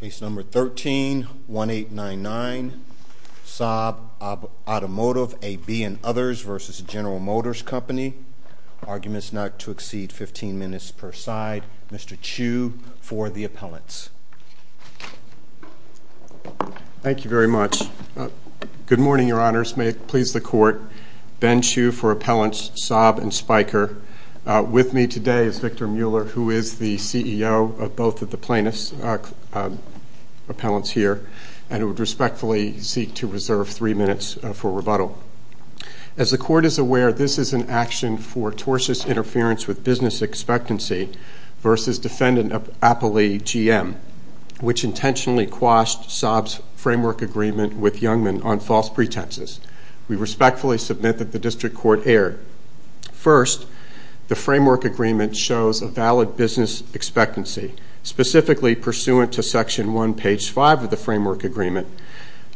Case number 13-1899, Saab Automotive, AB and Others v. General Motors Company. Arguments not to exceed 15 minutes per side. Mr. Chu for the appellants. Thank you very much. Good morning, your honors. May it please the court. Ben Chu for appellants Saab and Spiker. With me today is Victor Mueller, who is the CEO of both of the plaintiffs' appellants here, and who would respectfully seek to reserve three minutes for rebuttal. As the court is aware, this is an action for tortious interference with business expectancy v. Defendant Appley, GM, which intentionally quashed Saab's framework agreement with Youngman on false pretenses. We respectfully submit that the district court erred. First, the framework agreement shows a valid business expectancy, specifically pursuant to section 1, page 5 of the framework agreement.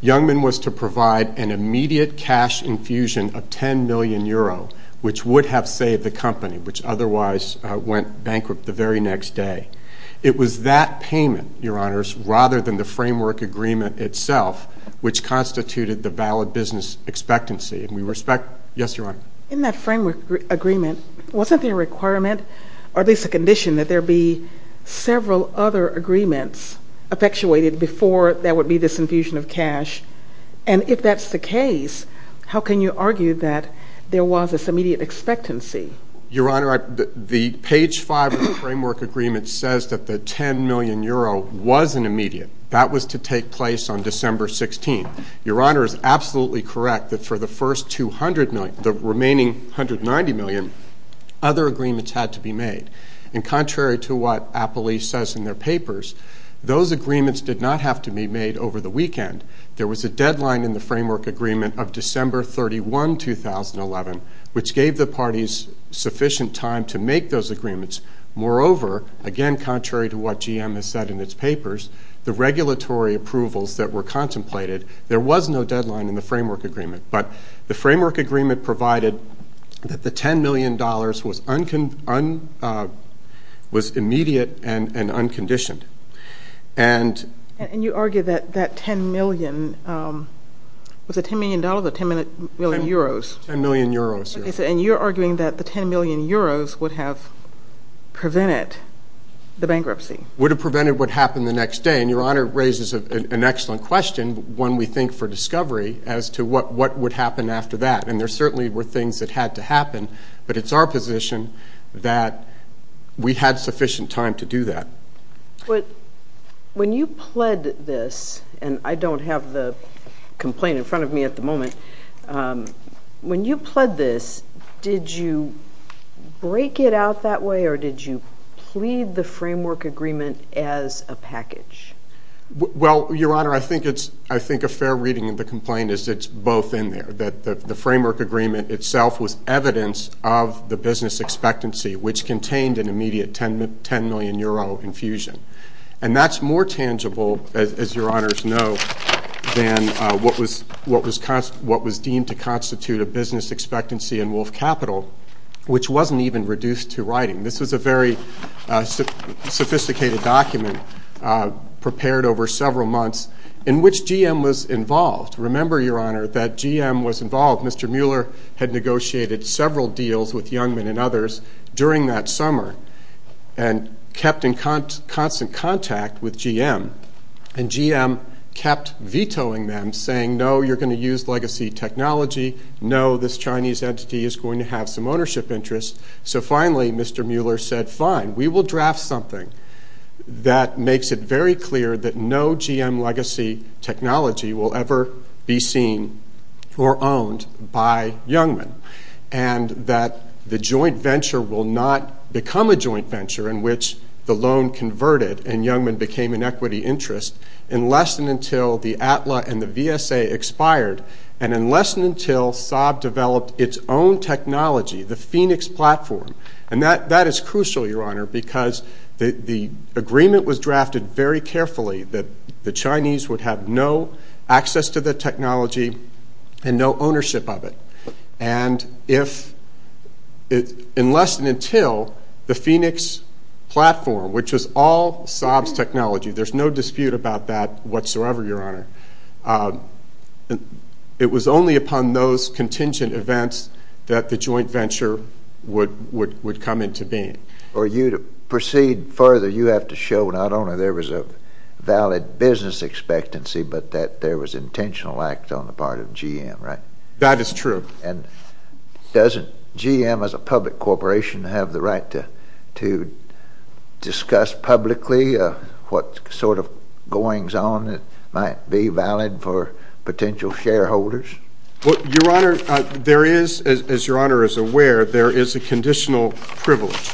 Youngman was to provide an immediate cash infusion of 10 million euro, which would have saved the company, which otherwise went bankrupt the very next day. It was that payment, your honors, rather than the framework agreement itself, which constituted the valid business expectancy. And we respect, yes, your honor? In that framework agreement, wasn't there a requirement, or at least a condition, that there be several other agreements effectuated before there would be this infusion of cash? And if that's the case, how can you argue that there was this immediate expectancy? Your honor, the page 5 of the framework agreement says that the 10 million euro was an immediate. That was to take place on December 16th. Your honor is absolutely correct that for the first 200 million, the remaining 190 million, other agreements had to be made. And contrary to what Appley says in their papers, those agreements did not have to be made over the weekend. There was a deadline in the framework agreement of December 31, 2011, which gave the parties sufficient time to make those agreements. Moreover, again contrary to what GM has said in its papers, the regulatory approvals that were contemplated, there was no deadline in the framework agreement. But the framework agreement provided that the 10 million dollars was immediate and unconditioned. And you argue that that 10 million, was it 10 million dollars or 10 million euros? 10 million euros. And you're arguing that the 10 million euros would have prevented the bankruptcy. Would have prevented what happened the next day. And your honor raises an excellent question, one we think for discovery, as to what would happen after that. And there certainly were things that had to happen, but it's our position that we had sufficient time to do that. But when you pled this, and I don't have the complaint in front of me at the moment, when you pled this, did you break it out that way or did you plead the framework agreement as a package? Well, your honor, I think it's, I think a fair reading of the complaint is it's both in there. That the framework agreement itself was evidence of the business expectancy, which contained an immediate 10 million euro infusion. And that's more tangible, as your honors know, than what was deemed to constitute a business expectancy in Wolf Capital, which wasn't even reduced to writing. This was a very sophisticated document prepared over several months, in which GM was involved. Remember, your honor, that GM was involved. Mr. Mueller had negotiated several deals with Youngman and others during that summer, and kept in constant contact with GM. And GM kept vetoing them, saying, no, you're going to use legacy technology. No, this Chinese entity is going to have some ownership interests. So finally, Mr. Mueller said, fine, we will draft something that makes it very clear that no GM legacy technology will ever be seen or owned by Youngman. And that the joint venture will not become a joint venture, in which the loan converted and Youngman became an equity interest, unless and until the ATLA and the VSA expired. And unless and until Saab developed its own technology, the Phoenix platform. And that is crucial, your honor, because the agreement was drafted very carefully that the Chinese would have no access to the technology and no ownership of it. And if, unless and until the Phoenix platform, which was all Saab's technology, there's no dispute about that whatsoever, your honor, it was only upon those contingent events that the joint venture would come into being. For you to proceed further, you have to show not only there was a valid business expectancy, but that there was intentional act on the part of GM, right? That is true. And doesn't GM, as a public corporation, have the right to discuss publicly what sort of goings-on might be valid for potential shareholders? Well, your honor, there is, as your honor is aware, there is a conditional privilege.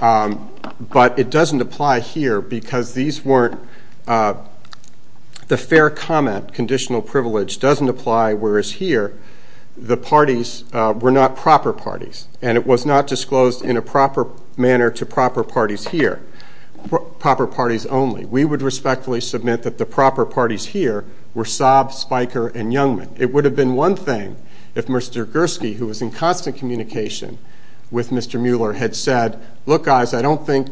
But it doesn't apply here because these weren't, the fair comment conditional privilege doesn't apply, whereas here, the parties were not proper parties. And it was not disclosed in a proper manner to proper parties here, proper parties only. We would respectfully submit that the proper parties here were Saab, Spiker, and Youngman. It would have been one thing if Mr. Mueller had said, look guys, I don't think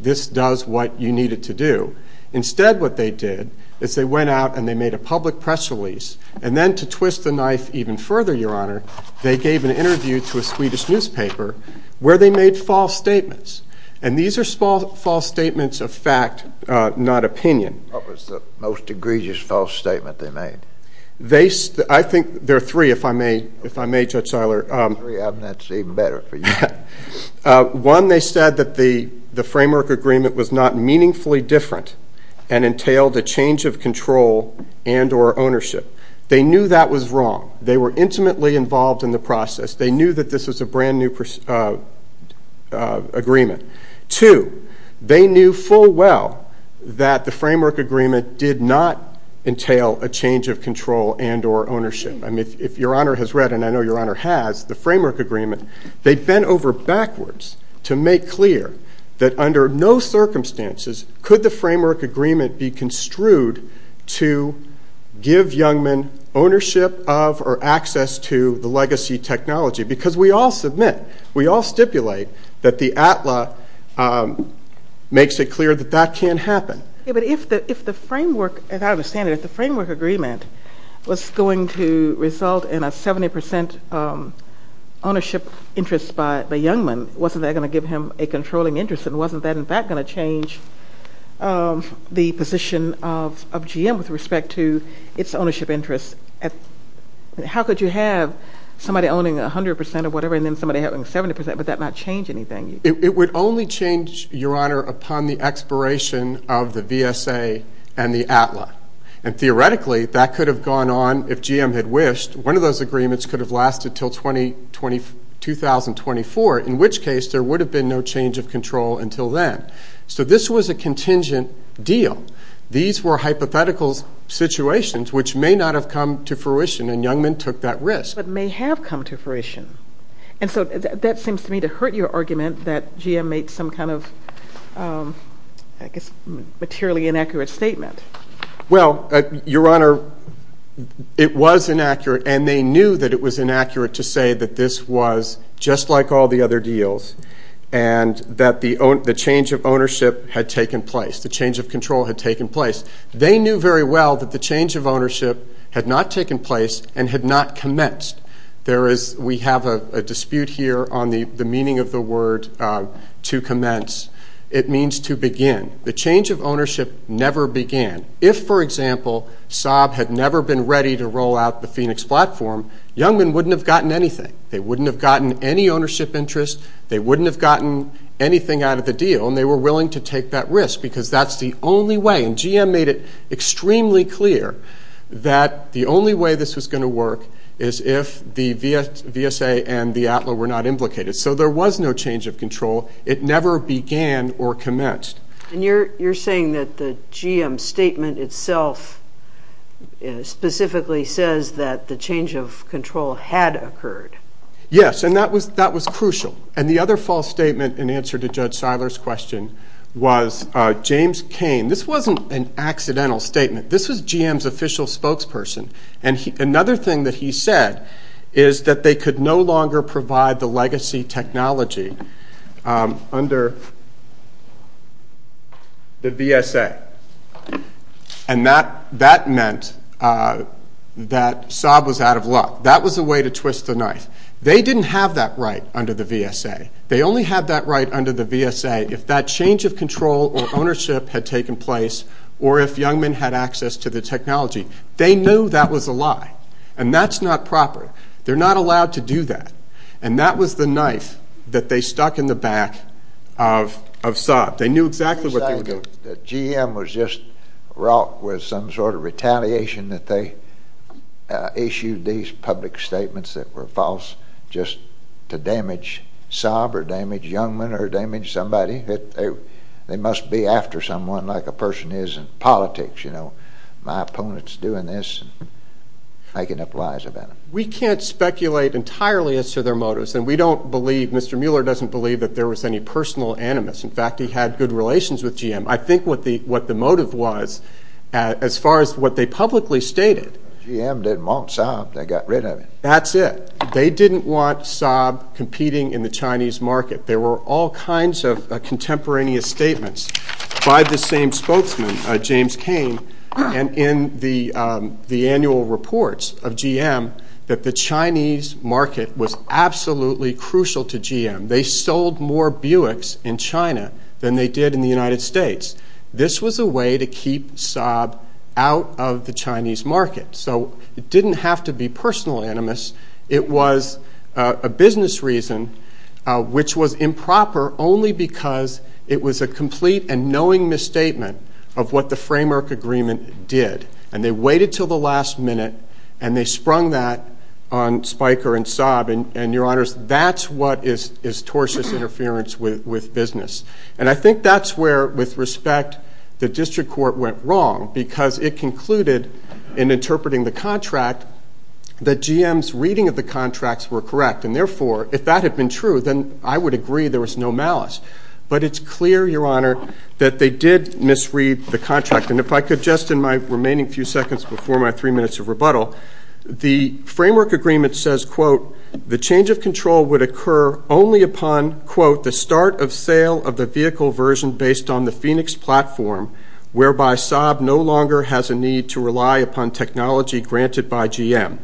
this does what you need it to do. Instead, what they did is they went out and they made a public press release. And then to twist the knife even further, your honor, they gave an interview to a Swedish newspaper where they made false statements. And these are small false statements of fact, not opinion. What was the most egregious false statement they made? They, I think there are three, if I may, if I may, Judge Seiler. Three, that's even better for you. One, they said that the framework agreement was not meaningfully different and entailed a change of control and or ownership. They knew that was wrong. They were intimately involved in the process. They knew that this was a brand new agreement. Two, they knew full well that the framework agreement did not entail a change of control and or ownership. I mean, if your honor has read, and I know your honor has, the framework agreement, they bent over backwards to make clear that under no circumstances could the framework agreement be construed to give young men ownership of or access to the legacy technology. Because we all submit, we all stipulate that the ATLA makes it clear that that can't happen. But if the framework, as I understand it, if the framework agreement was going to result in a 70% ownership interest by the young men, wasn't that going to give him a controlling interest? And wasn't that in fact going to change the position of GM with respect to its ownership interests? How could you have somebody owning 100% of whatever and then somebody having 70% but that not change anything? It would only change, your honor, upon the expiration of the VSA and the ATLA. And theoretically, that could have gone on if GM had wished. One of those agreements could have lasted till 2024, in which case there would have been no change of control until then. So this was a contingent deal. These were hypothetical situations which may not have come to fruition and young men took that risk. But may have come to fruition. And so that seems to me to hurt your argument that GM made some kind of, I guess, materially inaccurate statement. Well, your honor, it was inaccurate and they knew that it was inaccurate to say that this was just like all the other deals and that the change of ownership had taken place, the change of control had taken place. They knew very well that the change of ownership had not taken place and had not commenced. There is, we have a dispute here on the meaning of the word to commence. It means to begin. The change of ownership never began. If, for example, Saab had never been ready to roll out the Phoenix platform, young men wouldn't have gotten anything. They wouldn't have gotten any ownership interest. They wouldn't have gotten anything out of the deal and they were willing to take that risk because that's the only way. And GM made it extremely clear that the only way this was going to work is if the VSA and the ATLA were not implicated. So there was no change of control. It never began or commenced. And you're saying that the GM statement itself specifically says that the change of control had occurred. Yes, and that was that was crucial. And the other false statement in answer to Judge Seiler's question was James Kane. This wasn't an accidental statement. This was GM's official spokesperson. And another thing that he said is that they could no longer provide the legacy technology under the VSA. And that meant that Saab was out of luck. That was a way to twist the knife. They didn't have that right under the VSA. They only had that right under the VSA if that change of control or ownership had taken place or if young men had access to the technology. They knew that was a lie. And that's not proper. They're not allowed to do that. And that was the knife that they stuck in the back of Saab. They knew exactly what they were doing. You're saying that GM was just wrought with some sort of retaliation that they issued these public statements that were false just to damage Saab or damage young men or damage somebody. They must be after someone like a person is in politics. My opponent's doing this and making up lies about him. We can't speculate entirely as to their motives. And we don't believe, Mr. Mueller doesn't believe that there was any personal animus. In fact, he had good relations with GM. I think what the motive was as far as what they publicly stated. GM didn't want Saab. They got rid of him. That's it. They didn't want Saab competing in the Chinese market. There were all kinds of contemporaneous statements by the same spokesman, James Cain, and in the annual reports of GM that the Chinese market was absolutely crucial to GM. They sold more Buicks in China than they did in the United States. This was a way to keep Saab out of the Chinese market. So it didn't have to be personal animus. It was a business reason which was improper only because it was a complete and knowing misstatement of what the framework agreement did. And they waited till the last minute and they sprung that on Spiker and Saab. And your honors, that's what is tortious interference with business. And I think that's where, with respect, the district court went wrong because it concluded in interpreting the contract that GM's reading of the contracts were correct. And therefore, if that had been true, then I would agree there was no malice. But it's clear, your honor, that they did misread the contract. And if I could just in my remaining few seconds before my three minutes of rebuttal, the framework agreement says, quote, the change of control would occur only upon, quote, the start of sale of the vehicle version based on the Phoenix platform, whereby Saab no longer has a need to rely upon technology granted by GM.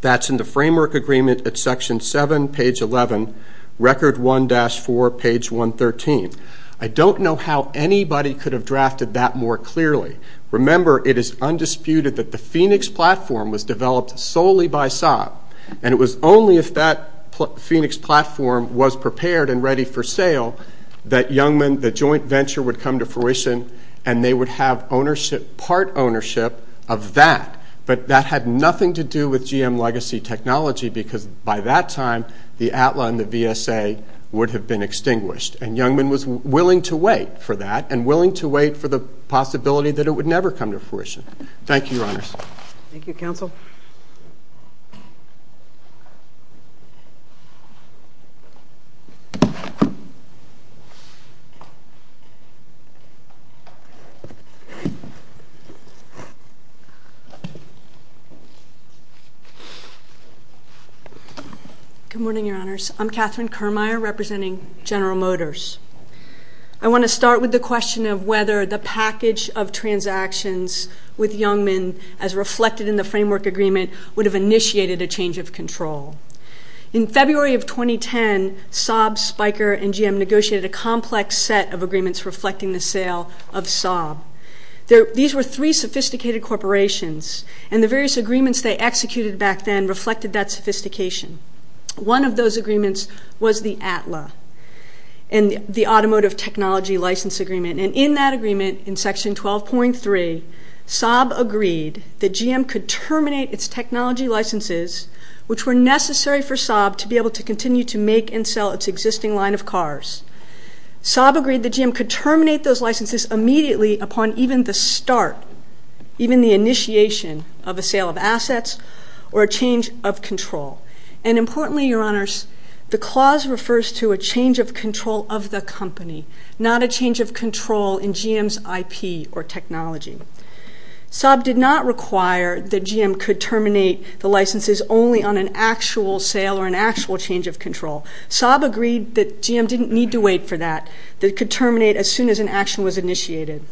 That's in the framework agreement at section 7, page 11, record 1-4, page 113. I don't know how anybody could have drafted that more clearly. Remember, it is undisputed that the Phoenix platform was developed solely by Saab. And it was only if that Phoenix platform was prepared and ready for sale that Youngman, the joint venture, would come to fruition and they would have ownership, part ownership, of that. But that had nothing to do with GM legacy technology because by that time, the ATLA and the VSA would have been extinguished. And Youngman was willing to wait for that and willing to wait for the possibility that it would never come to fruition. Thank you, your honors. Thank you, counsel. Good morning, your honors. I'm Catherine Kirmire, representing General Motors. I want to start with the question of whether the package of transactions with Youngman, as reflected in the framework agreement, would have initiated a change of control. In February of 2010, Saab, Spiker, and GM negotiated a complex set of agreements reflecting the sale of Saab. These were three sophisticated corporations and the various agreements they executed back then reflected that sophistication. One of those agreements was the ATLA and the Automotive Technology License Agreement. And in that agreement, in section 12.3, Saab agreed that GM could terminate its technology licenses, which were necessary for Saab to be able to continue to make and sell its existing line of cars. Saab agreed that GM could terminate those licenses immediately upon even the start, even the initiation of a sale of assets or a change of control. And importantly, your honors, the clause refers to a change of control of the company, not a change of control in GM's IP or licenses only on an actual sale or an actual change of control. Saab agreed that GM didn't need to wait for that, that it could terminate as soon as an action was initiated.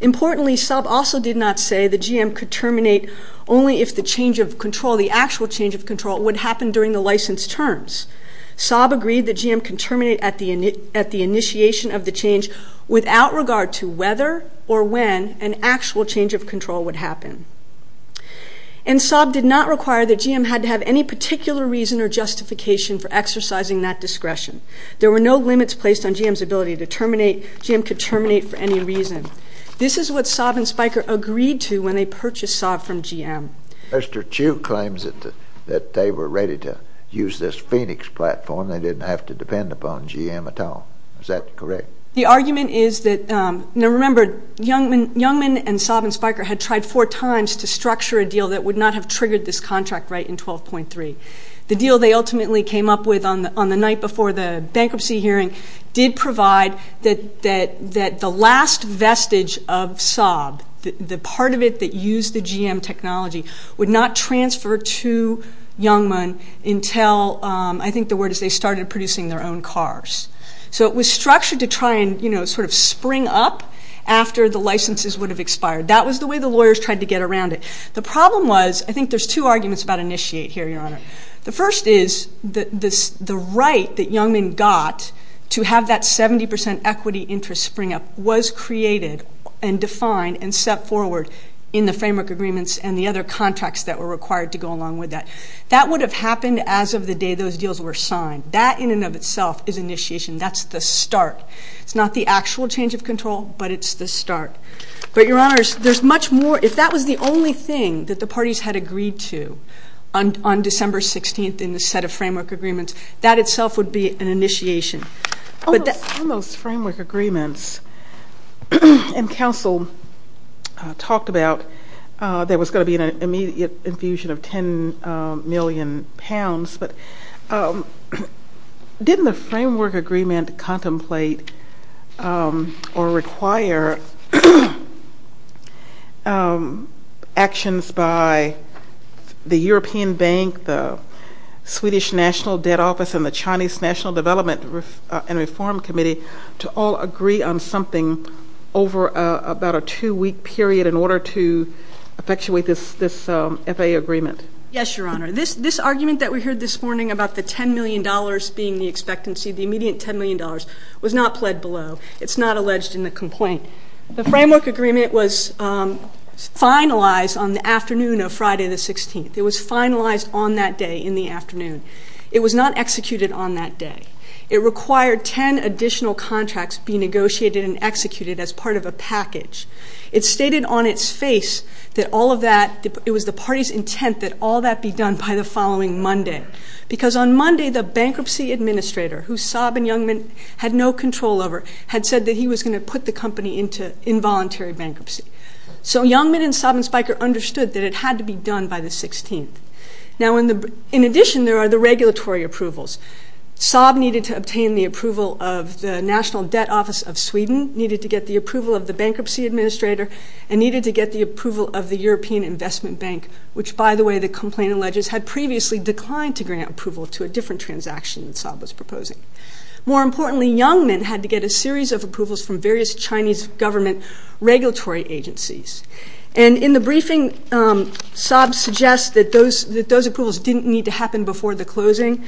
Importantly, Saab also did not say that GM could terminate only if the change of control, the actual change of control, would happen during the license terms. Saab agreed that GM could terminate at the initiation of the change without regard to whether or when an actual change of control would happen. And Saab did not require that GM had to have any particular reason or justification for exercising that discretion. There were no limits placed on GM's ability to terminate. GM could terminate for any reason. This is what Saab and Spiker agreed to when they purchased Saab from GM. Mr. Chu claims that they were ready to use this Phoenix platform. They didn't have to depend upon GM at all. Is that correct? The argument is that, now remember, Youngman and Saab and Spiker had tried four times to structure a deal that would not have triggered this contract right in 12.3. The deal they ultimately came up with on the night before the bankruptcy hearing did provide that the last vestige of Saab, the part of it that used the GM technology, would not transfer to Youngman until, I think the word is they started producing their own cars. So it was structured to try and spring up after the licenses would have expired. That was the way the lawyers tried to get around it. The problem was, I think there's two arguments about initiate here, Your Honor. The first is the right that Youngman got to have that 70 percent equity interest spring up was created and defined and set forward in the framework agreements and the other contracts that were required to go along with that. That would have happened as of the day those deals were signed. That in and of itself is initiation. That's the start. It's not the actual change of control, but it's the start. But Your Honor, there's much more, if that was the only thing that the parties had agreed to on December 16th in the set of framework agreements, that itself would be an initiation. On those framework agreements, and counsel talked about there was going to be an infusion of 10 million pounds, but didn't the framework agreement contemplate or require actions by the European Bank, the Swedish National Debt Office, and the Chinese National Development and Reform Committee to all agree on something over about a two-week period in order to effectuate this FAA agreement? Yes, Your Honor. This argument that we heard this morning about the $10 million being the expectancy, the immediate $10 million was not pled below. It's not alleged in the complaint. The framework agreement was finalized on the afternoon of Friday the 16th. It was finalized on that day in the afternoon. It was not executed on that day. It required 10 additional contracts be negotiated and executed as part of a package. It stated on its face that all of that, it was the party's intent that all that be done by the following Monday, because on Monday, the bankruptcy administrator, who Saab and Youngman had no control over, had said that he was going to put the company into involuntary bankruptcy. So Youngman and Saab and Spiker understood that it had to be done by the 16th. Now, in addition, there are the regulatory approvals. Saab needed to obtain the approval of the National Debt Office of Sweden, needed to get the approval of the bankruptcy administrator, and needed to get the approval of the European Investment Bank, which, by the way, the complaint alleges had previously declined to grant approval to a different transaction that Saab was proposing. More importantly, Youngman had to get a series of approvals from various Chinese government regulatory agencies. And in the briefing, Saab suggests that those approvals didn't need to happen before the 2014,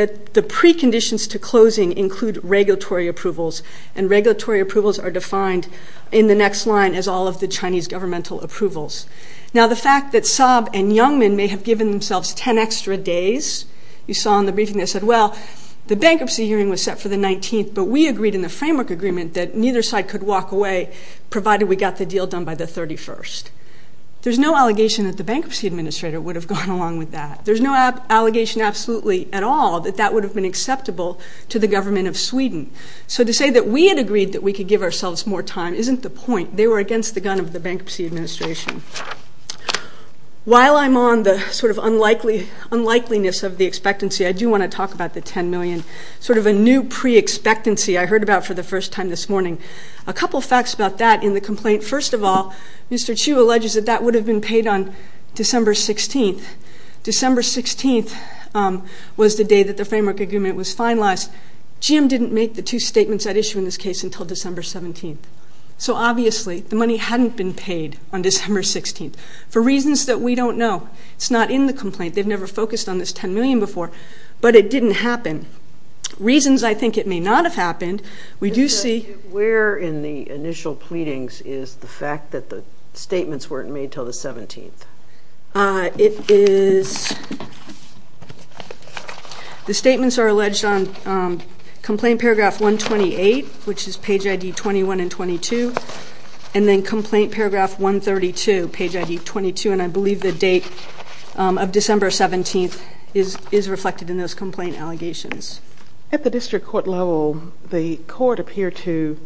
that the preconditions to closing include regulatory approvals, and regulatory approvals are defined in the next line as all of the Chinese governmental approvals. Now, the fact that Saab and Youngman may have given themselves 10 extra days, you saw in the briefing, they said, well, the bankruptcy hearing was set for the 19th, but we agreed in the framework agreement that neither side could walk away, provided we got the deal done by the 31st. There's no allegation that the bankruptcy administrator would have gone along with that. There's no allegation absolutely at all that that would have been acceptable to the government of Sweden. So to say that we had agreed that we could give ourselves more time isn't the point. They were against the gun of the bankruptcy administration. While I'm on the sort of unlikely, unlikeliness of the expectancy, I do want to talk about the 10 million, sort of a new pre-expectancy I heard about for the first time this morning. A couple facts about that in the complaint. First of all, Mr. Chu alleges that that would have been paid on December 16th. December 16th was the day that the framework agreement was finalized. GM didn't make the two statements at issue in this case until December 17th. So obviously, the money hadn't been paid on December 16th, for reasons that we don't know. It's not in the complaint. They've never focused on this 10 million before, but it didn't happen. Reasons I think it may not have happened, we do see... made until the 17th. The statements are alleged on complaint paragraph 128, which is page ID 21 and 22, and then complaint paragraph 132, page ID 22, and I believe the date of December 17th is reflected in those complaint allegations. At the district court level, the court appeared to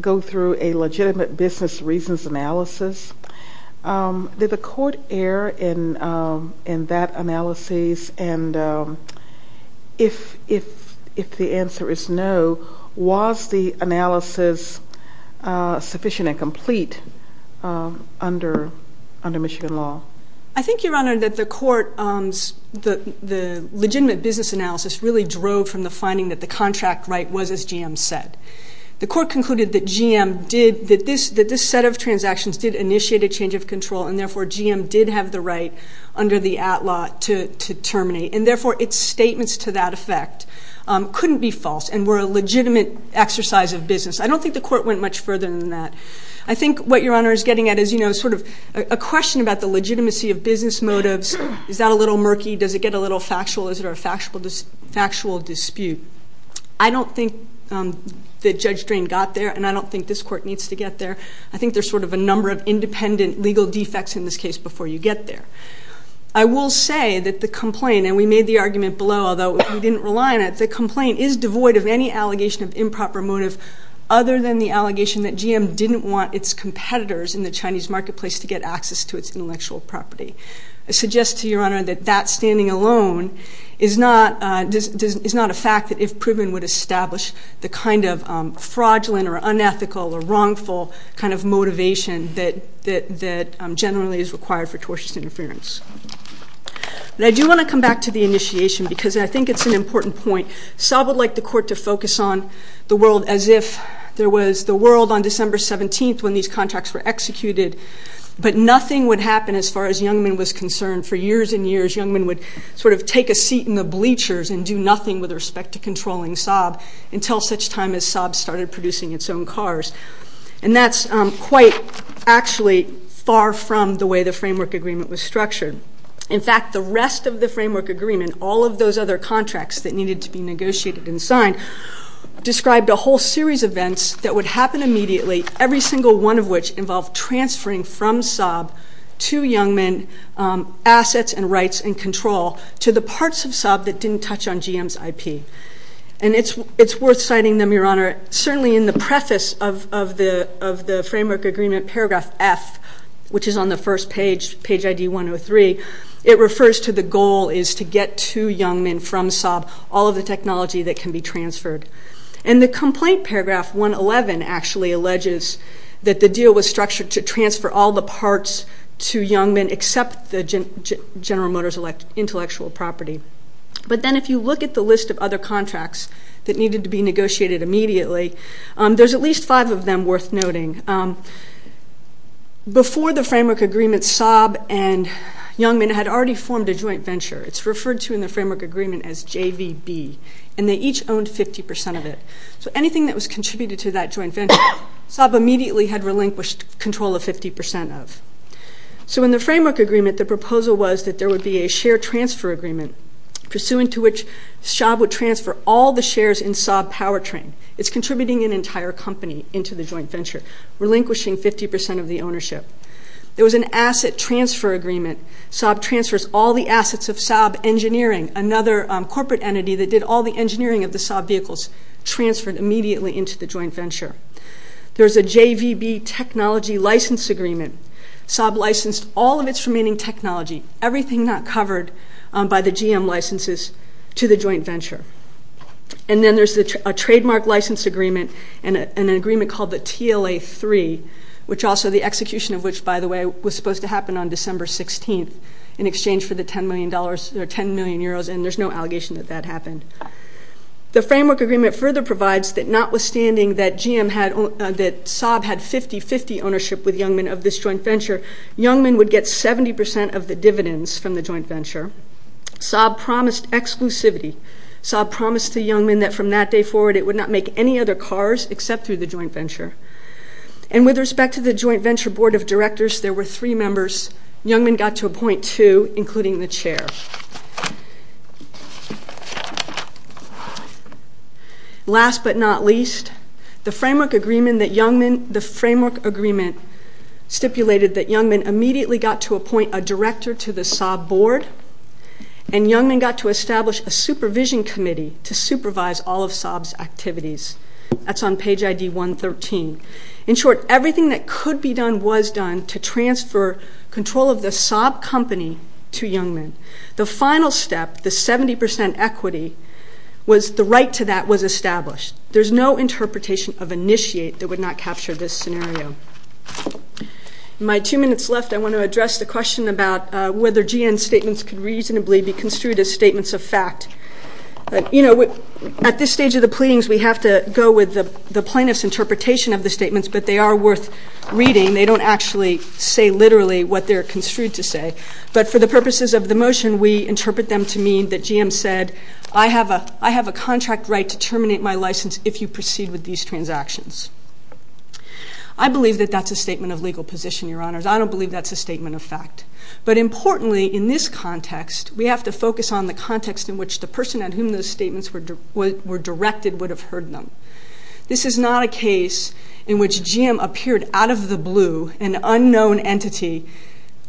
go through a legitimate business reasons analysis. Did the court err in that analysis? And if the answer is no, was the analysis sufficient and complete under Michigan law? I think, Your Honor, that the court... The legitimate business analysis really drove from the finding that the contract right was, as GM said. The court concluded that GM did... That this set of transactions did initiate a change of control, and therefore, GM did have the right under the ATLA to terminate. And therefore, its statements to that effect couldn't be false and were a legitimate exercise of business. I don't think the court went much further than that. I think what Your Honor is getting at is sort of a question about the legitimacy of business motives. Is that a little murky? Does it get a little factual? Is there a factual dispute? I don't think that Judge Drain got there, and I don't think this court needs to get there. I think there's sort of a number of independent legal defects in this case before you get there. I will say that the complaint, and we made the argument below, although we didn't rely on it, the complaint is devoid of any allegation of improper motive other than the allegation that GM didn't want its competitors in the Chinese marketplace to get access to its is not a fact that if proven would establish the kind of fraudulent or unethical or wrongful kind of motivation that generally is required for tortious interference. But I do want to come back to the initiation because I think it's an important point. Saab would like the court to focus on the world as if there was the world on December 17th when these contracts were executed, but nothing would happen as far as Youngman was concerned. For years and years, Youngman would sort of take a seat in the bleachers and do nothing with respect to controlling Saab until such time as Saab started producing its own cars. And that's quite actually far from the way the framework agreement was structured. In fact, the rest of the framework agreement, all of those other contracts that needed to be negotiated and signed, described a whole series of events that would happen immediately, every single one of which involved transferring from Saab to Youngman assets and rights and control to the parts of Saab that didn't touch on GM's IP. And it's worth citing them, Your Honor. Certainly in the preface of the framework agreement, paragraph F, which is on the first page, page ID 103, it refers to the goal is to get to Youngman from Saab all of the technology that can be transferred. And the to transfer all the parts to Youngman except the General Motors intellectual property. But then if you look at the list of other contracts that needed to be negotiated immediately, there's at least five of them worth noting. Before the framework agreement, Saab and Youngman had already formed a joint venture. It's referred to in the framework agreement as JVB. And they each owned 50% of it. So anything that was contributed to that joint venture, Saab immediately had control of 50% of. So in the framework agreement, the proposal was that there would be a share transfer agreement pursuant to which Saab would transfer all the shares in Saab Powertrain. It's contributing an entire company into the joint venture, relinquishing 50% of the ownership. There was an asset transfer agreement. Saab transfers all the assets of Saab Engineering, another corporate entity that did all the engineering of the Saab vehicles, transferred immediately into the joint venture. There's a JVB technology license agreement. Saab licensed all of its remaining technology, everything not covered by the GM licenses, to the joint venture. And then there's a trademark license agreement and an agreement called the TLA-3, which also the execution of which, by the way, was supposed to happen on December 16th in exchange for the 10 million euros. And there's no allegation that that happened. The framework agreement further provides that notwithstanding that Saab had 50-50 ownership with Youngman of this joint venture, Youngman would get 70% of the dividends from the joint venture. Saab promised exclusivity. Saab promised to Youngman that from that day forward it would not make any other cars except through the joint venture. And with respect to the joint venture board of directors, there were three members Youngman got to appoint to, including the chair. Last but not least, the framework agreement stipulated that Youngman immediately got to appoint a director to the Saab board and Youngman got to establish a supervision committee to supervise all of Saab's activities. That's on page ID 113. In short, everything that could be done to transfer control of the Saab company to Youngman. The final step, the 70% equity, was the right to that was established. There's no interpretation of initiate that would not capture this scenario. In my two minutes left, I want to address the question about whether GN statements could reasonably be construed as statements of fact. At this stage of the pleadings, we have to go with the plaintiff's interpretation of the statements, but they are worth reading. They don't actually say literally what they're construed to say. But for the purposes of the motion, we interpret them to mean that GM said, I have a contract right to terminate my license if you proceed with these transactions. I believe that that's a statement of legal position, your honors. I don't believe that's a statement of fact. But importantly, in this context, we have to focus on the context in which the person at whom those statements were directed would have heard them. This is not a case in which GM appeared out of the blue, an unknown entity,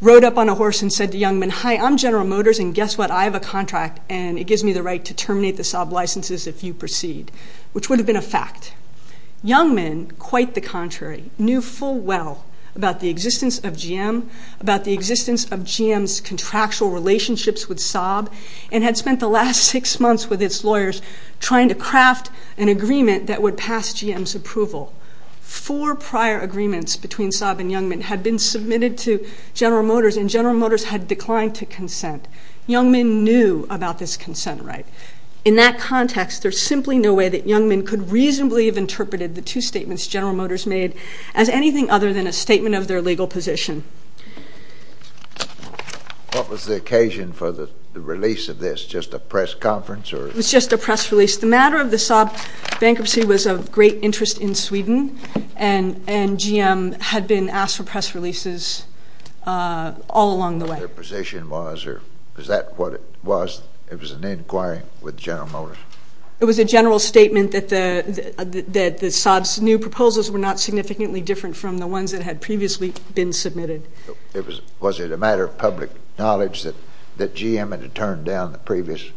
rode up on a horse and said to Youngman, hi, I'm General Motors and guess what, I have a contract and it gives me the right to terminate the Saab licenses if you proceed, which would have been a fact. Youngman, quite the contrary, knew full well about the existence of GM, about the existence of GM's contractual relationships with Saab, and had spent the last six months with its lawyers trying to craft an agreement that would pass GM's approval. Four prior agreements between Saab and Youngman had been submitted to General Motors and General Motors had declined to consent. Youngman knew about this consent right. In that context, there's simply no way that Youngman could reasonably have interpreted the two statements General Motors made as anything other than a statement of their legal position. What was the occasion for the release of this, just a press conference or? It was just a press release. The matter of the Saab bankruptcy was of great interest in Sweden and GM had been asked for press releases all along the way. Their position was, or was that what it was, it was an inquiry with General Motors? It was a general statement that the Saab's new proposals were not significantly different from the ones that had previously been submitted. Was it a matter of public knowledge that GM had turned down the previous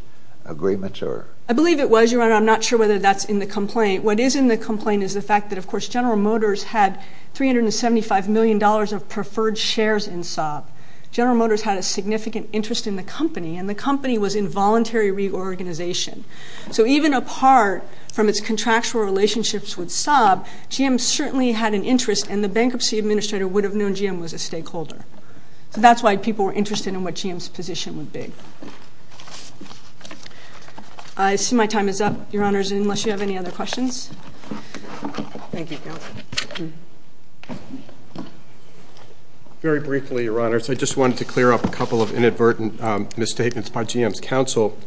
agreements or? I believe it was, Your Honor. I'm not sure whether that's in the complaint. What is in the complaint is the fact that, of course, General Motors had $375 million of preferred shares in Saab. General Motors had a significant interest in the company and the company was in voluntary reorganization. So even apart from its contractual relationships with Saab, GM certainly had an interest and the bankruptcy administrator would have known GM was a stakeholder. So that's why people were interested in what GM's position would be. I see my time is up, Your Honors, unless you have any other questions. Very briefly, Your Honors, I just wanted to clear up a couple of inadvertent misstatements by GM's counsel.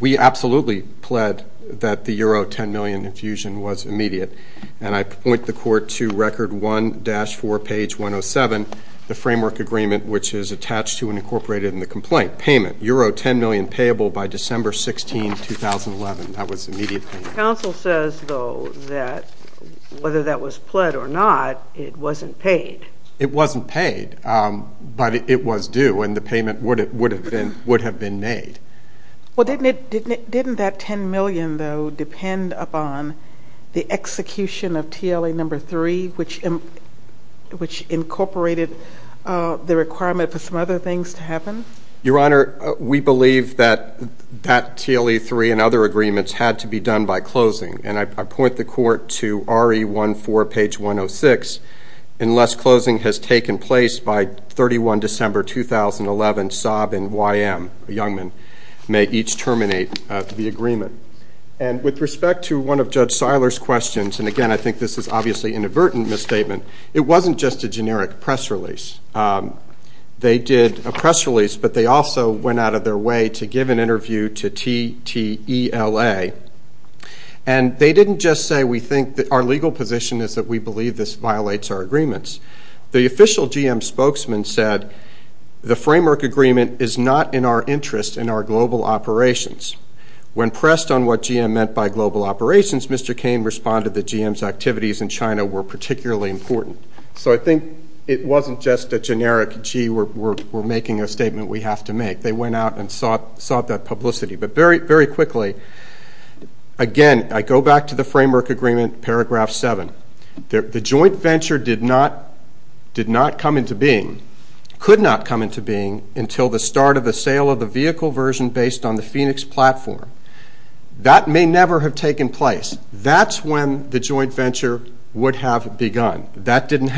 We absolutely pled that the Euro 10 million infusion was immediate and I point the Court to Record 1-4, page 107, the framework agreement which is attached to and incorporated in the complaint. Payment, Euro 10 million payable by December 16, 2011. That was immediate payment. Counsel says, though, that whether that was pled or not, it wasn't paid. It wasn't paid, but it was due and the payment would have been made. Well, didn't that 10 million, though, depend upon the execution of TLA number 3, which incorporated the requirement for some other things to happen? Your Honor, we believe that that TLA 3 and other agreements had to be done by closing, and I point the Court to RE 1-4, page 106, unless closing has taken place by 31 December, 2011, Saab and YM, Youngman, may each terminate the agreement. And with respect to one of Judge Seiler's questions, and again, I think this is obviously an inadvertent misstatement, it wasn't just a generic press release. They did a press release, but they also went out of their way to give an interview to TTLA, and they didn't just say, we think that our legal position is that we believe this violates our agreements. The official GM spokesman said, the framework agreement is not in our interest in our global operations. When pressed on what GM meant by global operations, Mr. Kane responded that GM's activities in China were particularly important. So I think it wasn't just a generic, gee, we're making a statement we have to make. They went out and sought that publicity. But very quickly, again, I go back to the framework agreement, paragraph 7. The joint venture did not come into being, could not come into being, until the start of the sale of the vehicle version based on the Phoenix platform. That may never have taken place. That's when the joint venture would have begun. That didn't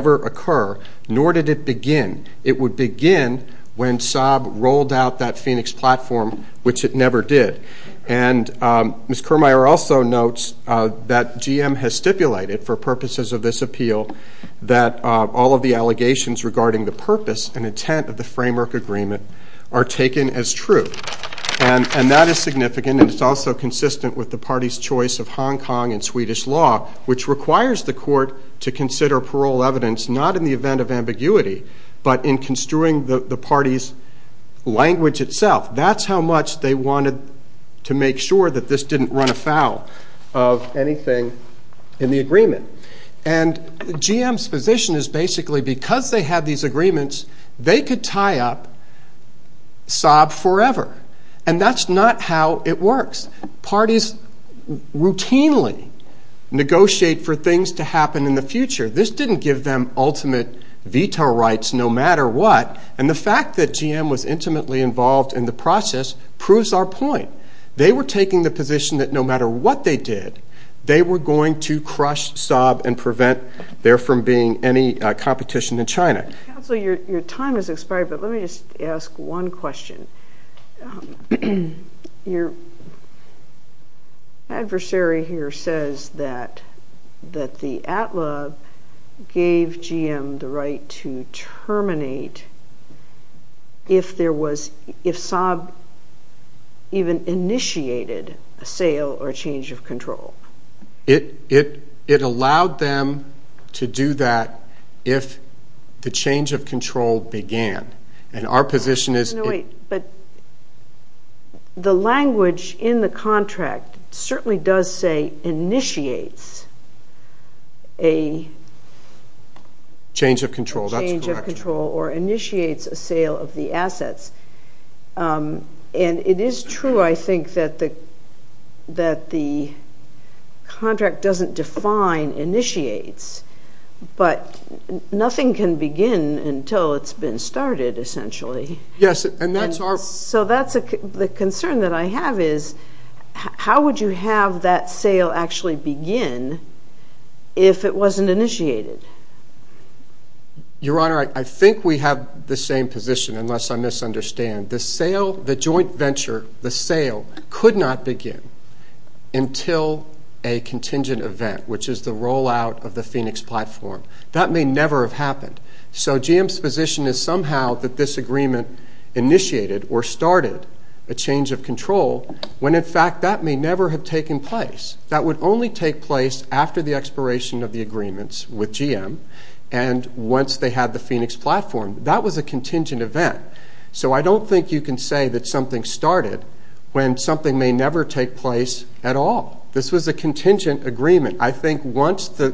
occur, nor did it begin. It would begin when Saab rolled out that Phoenix platform, which it never did. And Ms. Kirmire also notes that GM has stipulated for purposes of this appeal that all of the allegations regarding the purpose and intent of the framework agreement are taken as true. And that is significant, and it's also consistent with the party's choice of not in the event of ambiguity, but in construing the party's language itself. That's how much they wanted to make sure that this didn't run afoul of anything in the agreement. And GM's position is basically because they had these agreements, they could tie up Saab forever. And that's not how it works. Parties routinely negotiate for things to happen in the future. This didn't give them ultimate veto rights no matter what. And the fact that GM was intimately involved in the process proves our point. They were taking the position that no matter what they did, they were going to crush Saab and prevent there from being any competition in China. Counselor, your time has expired, but let me just ask one question. Your adversary here says that the ATLA gave GM the right to terminate if Saab even initiated a sale or change of control. It allowed them to do that if the change of control began. But the language in the contract certainly does say initiates a change of control or initiates a sale of the assets. And it is true, I think, that the contract doesn't define initiates, but nothing can begin until it's been started, essentially. So the concern that I have is, how would you have that sale actually begin if it wasn't initiated? Your Honor, I think we have the same position, unless I misunderstand. The sale, the joint contingent event, which is the rollout of the Phoenix platform, that may never have happened. So GM's position is somehow that this agreement initiated or started a change of control when, in fact, that may never have taken place. That would only take place after the expiration of the agreements with GM. And once they had the Phoenix platform, that was a contingent event. So I don't think you can say that something started when something may never take place at all. This was a contingent agreement. I think once the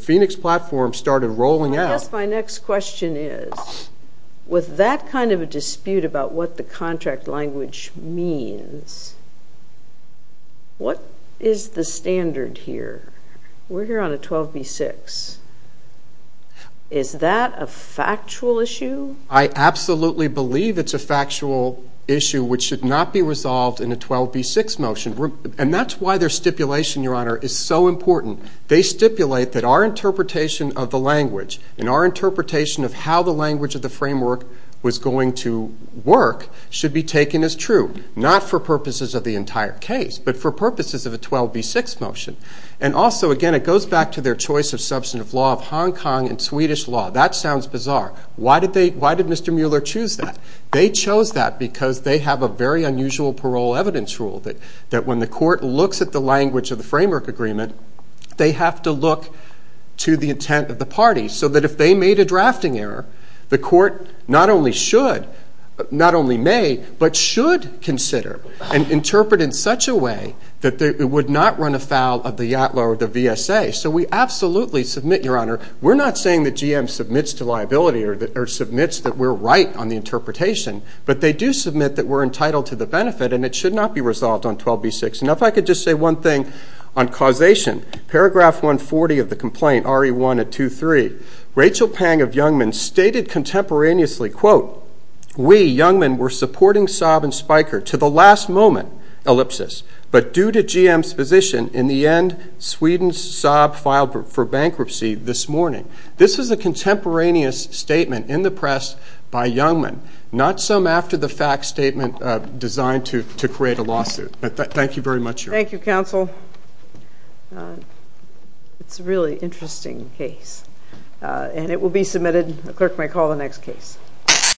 Phoenix platform started rolling out... I guess my next question is, with that kind of a dispute about what the contract language means, what is the standard here? We're here on a 12b-6. Is that a factual issue? I absolutely believe it's a factual issue, which should not be resolved in a 12b-6 motion. And that's why their stipulation, Your Honor, is so important. They stipulate that our interpretation of the language and our interpretation of how the language of the framework was going to work should be taken as true, not for purposes of the entire case, but for purposes of a 12b-6 motion. And also, again, it goes back to their choice of substantive law of Hong Kong and Swedish law. That sounds bizarre. Why did Mr. Mueller choose that? They chose that because they have a very clear understanding that when the court looks at the language of the framework agreement, they have to look to the intent of the party. So that if they made a drafting error, the court not only should, not only may, but should consider and interpret in such a way that it would not run afoul of the YATLA or the VSA. So we absolutely submit, Your Honor, we're not saying that GM submits to liability or that or submits that we're right on the interpretation, but they do submit that we're entitled to the benefit and it should not be resolved on 12b-6. And if I could just say one thing on causation. Paragraph 140 of the complaint, RE1 at 2-3, Rachel Pang of Youngman stated contemporaneously, quote, we, Youngman, were supporting Saab and Spiker to the last moment, ellipsis, but due to GM's position, in the end, Sweden's Saab filed for bankruptcy this morning. This is a contemporaneous statement in the press by Youngman, not some after the fact statement designed to create a lawsuit. Thank you very much, Your Honor. Thank you, counsel. It's a really interesting case, and it will be submitted. The clerk may call the next case.